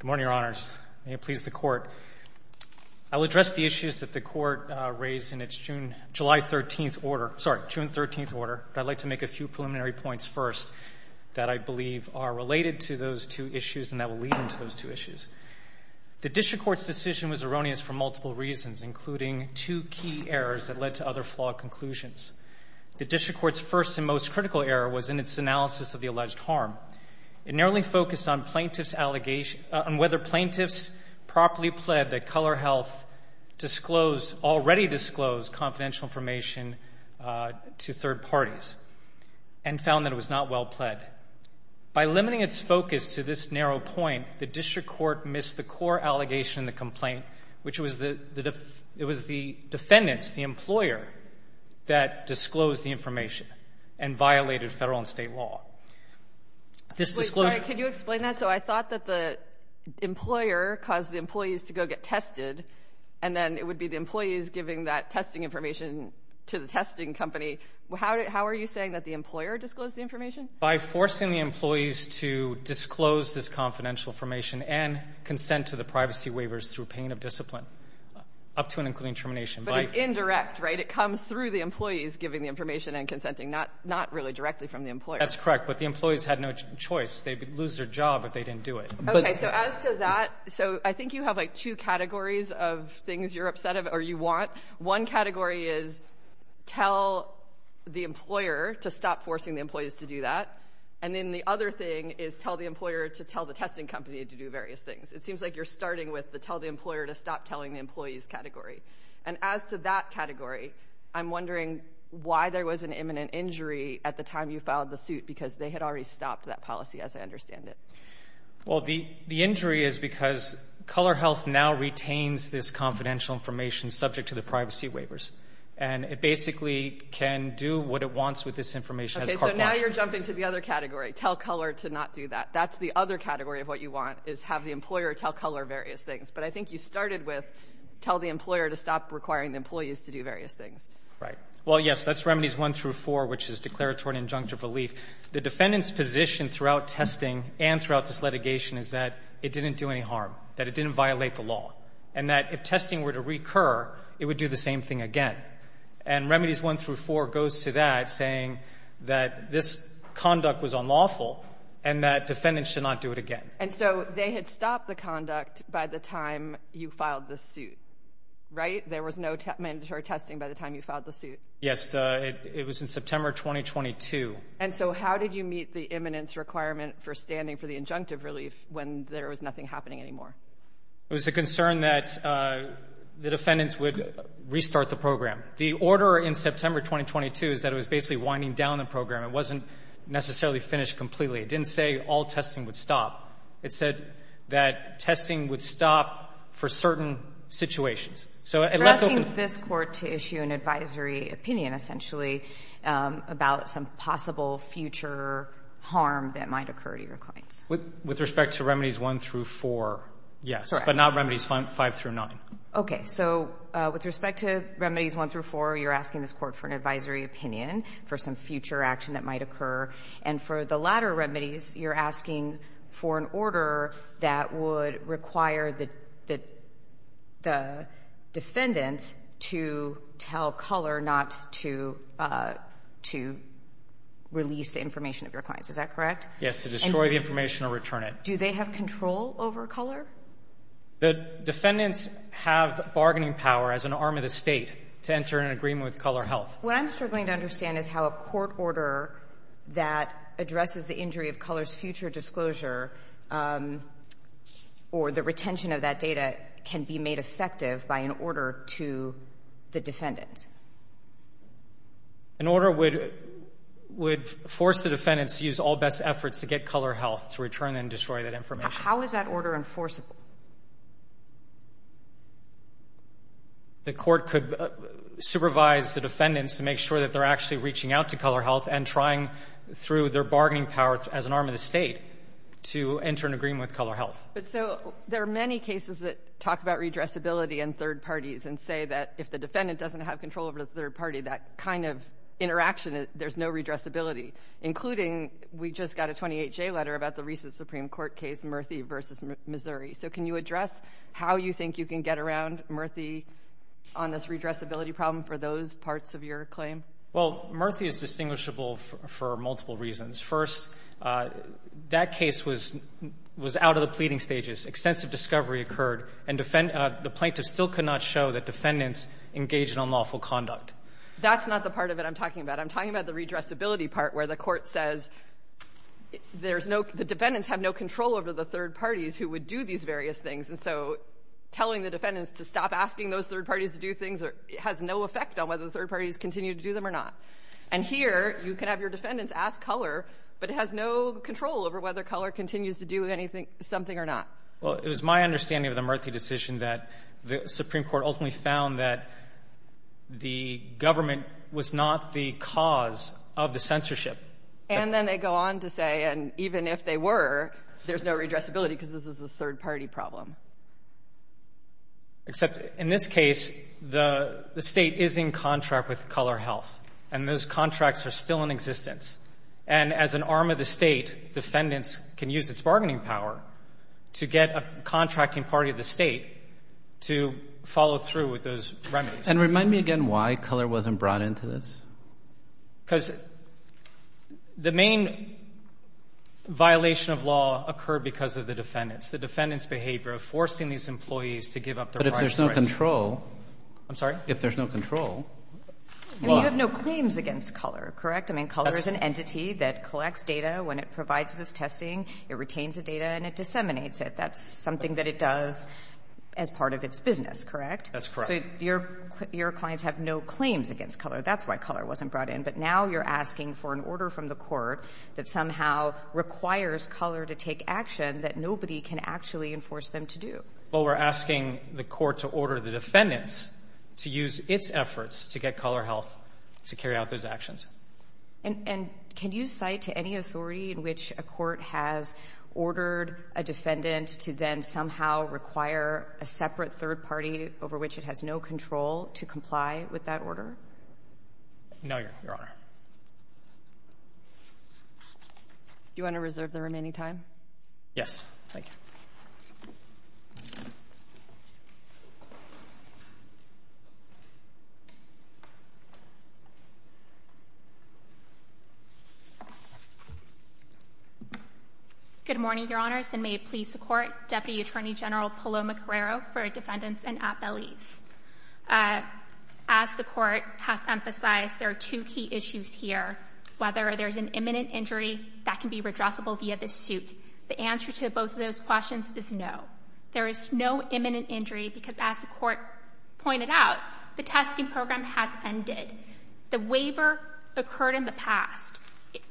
Good morning, Your Honors. May it please the Court, I will address the issues that the Court raised in its June 13th order, but I'd like to make a few preliminary points first that I believe are related to those two issues and that will lead into those two issues. The District Court's decision was erroneous for multiple reasons, including two key errors that led to other flawed conclusions. The District Court's first and most critical error was in its analysis of the alleged harm. It narrowly focused on whether plaintiffs properly pled that Color Health already disclosed confidential information to third parties and found that it was not well pled. By limiting its focus to this narrow point, the District that disclosed the information and violated Federal and State law. Wait, sorry, could you explain that? So I thought that the employer caused the employees to go get tested, and then it would be the employees giving that testing information to the testing company. How are you saying that the employer disclosed the information? By forcing the employees to disclose this confidential information and consent to the privacy waivers through pain of discipline up to and including termination. But it's indirect, right? It comes through the employees giving the information and consenting, not really directly from the employer. That's correct, but the employees had no choice. They'd lose their job if they didn't do it. Okay, so as to that, so I think you have like two categories of things you're upset of or you want. One category is tell the employer to stop forcing the employees to do that. And then the other thing is tell the employer to tell the testing company to do various things. It seems like you're starting with the tell the employer to stop telling the employees category. And as to that category, I'm wondering why there was an imminent injury at the time you filed the suit, because they had already stopped that policy as I understand it. Well, the injury is because Color Health now retains this confidential information subject to the privacy waivers. And it basically can do what it wants with this information. Okay, so now you're jumping to the other category, tell Color to not do that. That's the other category of what you want, is have the employer tell Color various things. But I think you started with tell the employer to stop requiring the employees to do various things. Right. Well, yes, that's Remedies 1 through 4, which is declaratory injunctive relief. The defendant's position throughout testing and throughout this litigation is that it didn't do any harm, that it didn't violate the law, and that if testing were to recur, it would do the same thing again. And Remedies 1 through 4 goes to that, saying that this conduct was unlawful and that defendants should not do it again. And so they had stopped the conduct by the time you filed the suit, right? There was no mandatory testing by the time you filed the suit. Yes, it was in September 2022. And so how did you meet the imminence requirement for standing for the injunctive relief when there was nothing happening anymore? It was a concern that the defendants would restart the program. The order in September 2022 is that it was basically winding down the program. It wasn't necessarily finished completely. It didn't say all testing would stop. It said that testing would stop for certain situations. So it left open the question. You're asking this Court to issue an advisory opinion, essentially, about some possible future harm that might occur to your clients. With respect to Remedies 1 through 4, yes, but not Remedies 5 through 9. Okay. So with respect to Remedies 1 through 4, you're asking this Court for an advisory opinion for some future action that might occur. And for the latter remedies, you're asking for an order that would require the defendant to tell Culler not to release the information of your clients. Is that correct? Yes, to destroy the information or return it. Do they have control over Culler? The defendants have bargaining power as an arm of the State to enter an agreement with Culler Health. What I'm struggling to understand is how a court order that addresses the injury of Culler's future disclosure or the retention of that data can be made effective by an order to the defendant. An order would force the defendants to use all best efforts to get Culler Health to return and destroy that information. How is that order enforceable? The court could supervise the defendants to make sure that they're actually reaching out to Culler Health and trying through their bargaining power as an arm of the State to enter an agreement with Culler Health. But so there are many cases that talk about redressability in third parties and say that if the defendant doesn't have control over the third party, that kind of interaction, there's no redressability, including we just got a 28-J letter about the recent Supreme Court case Murthy v. Missouri. So can you address how you think you can get around Murthy on this redressability problem for those parts of your claim? Well, Murthy is distinguishable for multiple reasons. First, that case was out of the pleading stages. Extensive discovery occurred. And the plaintiffs still could not show that defendants engaged in unlawful conduct. That's not the part of it I'm talking about. I'm talking about the redressability part where the court says there's no — the defendants have no control over the third parties who would do these various things. And so telling the defendants to stop asking those third parties to do things has no effect on whether the third parties continue to do them or not. And here, you can have your defendants ask Culler, but it has no control over whether Culler continues to do anything — something or not. Well, it was my understanding of the Murthy decision that the Supreme Court ultimately found that the government was not the cause of the censorship. And then they go on to say, and even if they were, there's no redressability because this is a third-party problem. Except in this case, the State is in contract with Culler Health. And those contracts are still in existence. And as an arm of the State, defendants can use its bargaining power to get a contracting party of the State to follow through with those remedies. And remind me again why Culler wasn't brought into this. Because the main violation of law occurred because of the defendants, the defendants' behavior of forcing these employees to give up their rights. But if there's no control — I'm sorry? If there's no control, why? I mean, you have no claims against Culler, correct? I mean, Culler is an entity that collects data. When it provides this testing, it retains the data and it disseminates it. That's something that it does as part of its business, correct? That's correct. So your clients have no claims against Culler. That's why Culler wasn't brought in. But now you're asking for an order from the Court that somehow requires Culler to take action that nobody can actually enforce them to do. Well, we're asking the Court to order the defendants to use its efforts to get Culler Health to carry out those actions. And can you cite any authority in which a court has ordered a defendant to then somehow require a separate third party over which it has no control to comply with that order? No, Your Honor. Do you want to reserve the remaining time? Yes. Thank you. Good morning, Your Honors, and may it please the Court, Deputy Attorney General Paloma Carreiro for defendants and appellees. As the Court has emphasized, there are two key issues here. Whether there's an imminent injury that can be redressable via the suit. The answer to both of those questions is no. There is no imminent injury because, as the Court pointed out, the testing program has ended. The waiver occurred in the past.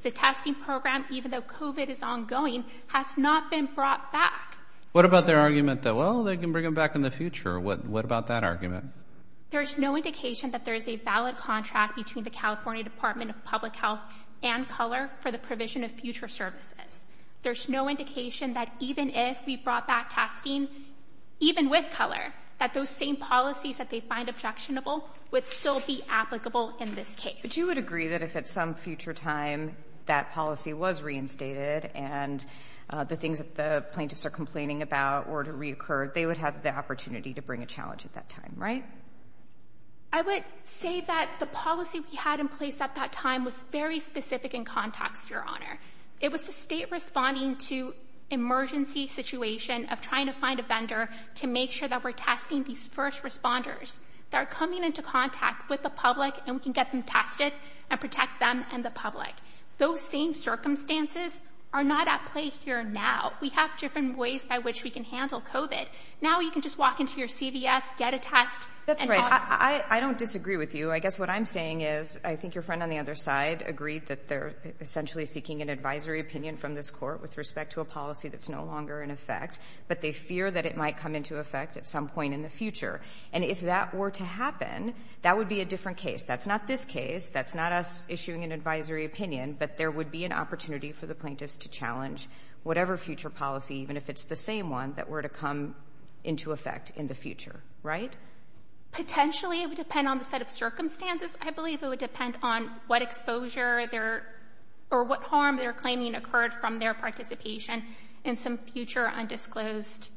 The testing program, even though COVID is ongoing, has not been brought back. What about their argument that, well, they can bring him back in the future? What about that argument? There's no indication that there is a valid contract between the California Department of Public Health and Color for the provision of future services. There's no indication that even if we brought back testing, even with Color, that those same policies that they find objectionable would still be applicable in this case. But you would agree that if at some future time that policy was reinstated and the things that the plaintiffs are complaining about were to reoccur, they would have the opportunity to bring a challenge at that time, right? I would say that the policy we had in place at that time was very specific in context, It was the state responding to emergency situation of trying to find a vendor to make sure that we're testing these first responders that are coming into contact with the public and we can get them tested and protect them and the public. Those same circumstances are not at play here now. We have different ways by which we can handle COVID. Now you can just walk into your CVS, get a test. That's right. I don't disagree with you. I guess what I'm saying is I think your friend on the other side agreed that they're essentially seeking an advisory opinion from this court with respect to a policy that's no longer in effect, but they fear that it might come into effect at some point in the And if that were to happen, that would be a different case. That's not this case. That's not us issuing an advisory opinion. But there would be an opportunity for the plaintiffs to challenge whatever future policy, even if it's the same one, that were to come into effect in the future. Right? Potentially, it would depend on the set of circumstances. I believe it would depend on what exposure or what harm they're claiming occurred from their participation in some future undisclosed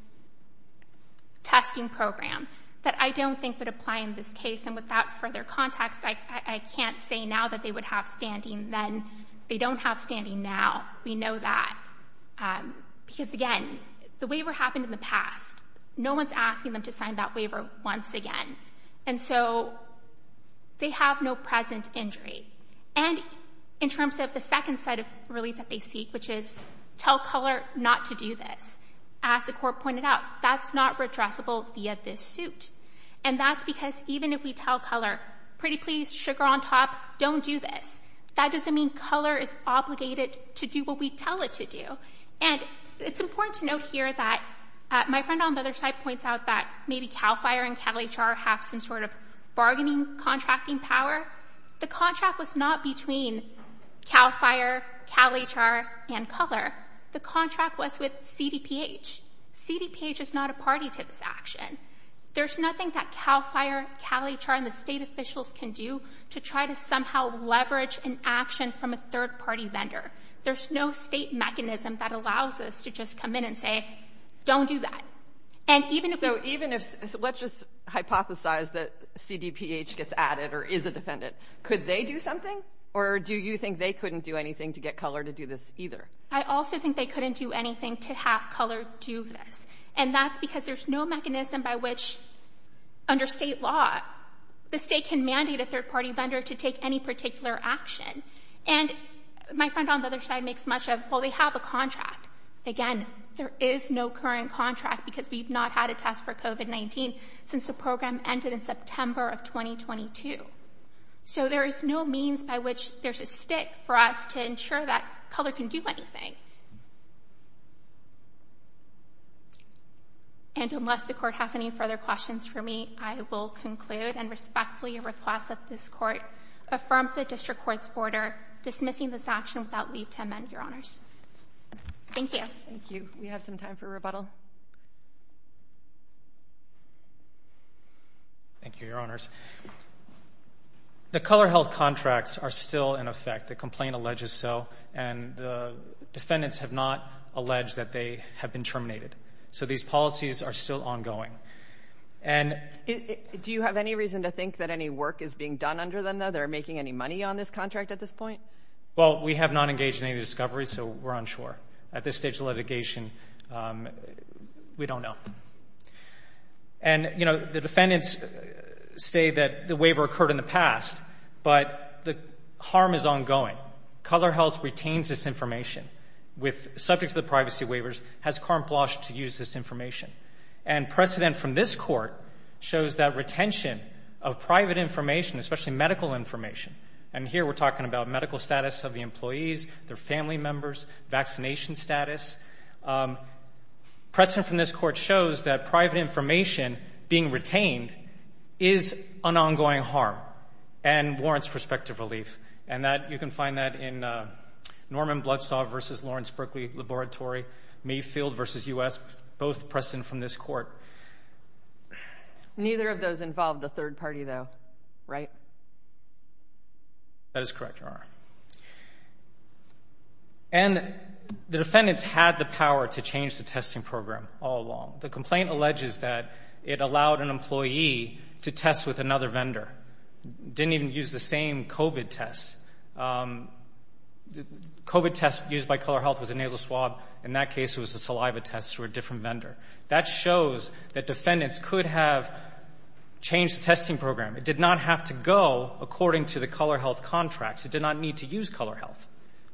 testing program. That I don't think would apply in this case. And without further context, I can't say now that they would have standing. Then they don't have standing now. We know that. Because again, the waiver happened in the past. No one's asking them to sign that waiver once again. And so they have no present injury. And in terms of the second set of relief that they seek, which is tell color not to do this, as the court pointed out, that's not redressable via this suit. And that's because even if we tell color, pretty please, sugar on top, don't do this, that doesn't mean color is obligated to do what we tell it to do. And it's important to note here that my friend on the other side points out that maybe CAL FIRE and CalHR have some sort of bargaining contracting power. The contract was not between CAL FIRE, CalHR, and color. The contract was with CDPH. CDPH is not a party to this action. There's nothing that CAL FIRE, CalHR, and the state officials can do to try to somehow leverage an action from a third-party vendor. There's no state mechanism that allows us to just come in and say, don't do that. And even if we... So let's just hypothesize that CDPH gets added or is a defendant. Could they do something? Or do you think they couldn't do anything to get color to do this either? I also think they couldn't do anything to have color do this. And that's because there's no mechanism by which, under state law, the state can mandate a third-party vendor to take any particular action. And my friend on the other side makes much of, well, they have a contract. Again, there is no current contract because we've not had a test for COVID-19 since the program ended in September of 2022. So there is no means by which there's a stick for us to ensure that color can do anything. And unless the court has any further questions for me, I will conclude and respectfully request that this court affirm the district court's order dismissing this action without leave to amend, Your Honors. Thank you. Thank you. We have some time for rebuttal. Thank you, Your Honors. The color-held contracts are still in effect. The complaint alleges so. And the defendants have not alleged that they have been terminated. So these policies are still ongoing. Do you have any reason to think that any work is being done under them, though? They're making any money on this contract at this point? Well, we have not engaged in any discovery, so we're unsure. At this stage of litigation, we don't know. And, you know, the defendants say that the waiver occurred in the past, but the harm is ongoing. Color Health retains this information, subject to the privacy waivers, has carte blanche to use this information. And precedent from this court shows that retention of private information, especially medical information, and here we're talking about medical status of the employees, their family members, vaccination status. Precedent from this court shows that private information being retained is an ongoing harm and warrants prospective relief. And you can find that in Norman Bloodstaff v. Lawrence Berkeley Laboratory, Mayfield v. U.S., both precedent from this court. Neither of those involve the third party, though, right? That is correct, Your Honor. And the defendants had the power to change the testing program all along. The complaint alleges that it allowed an employee to test with another vendor. Didn't even use the same COVID test. COVID test used by Color Health was a nasal swab. In that case, it was a saliva test through a different vendor. That shows that defendants could have changed the testing program. It did not have to go according to the Color Health contracts. It did not need to use Color Health.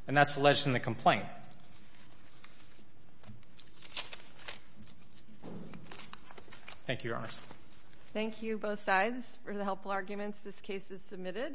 And that's alleged in the complaint. Thank you, Your Honors. Thank you, both sides, for the helpful arguments. This case is submitted.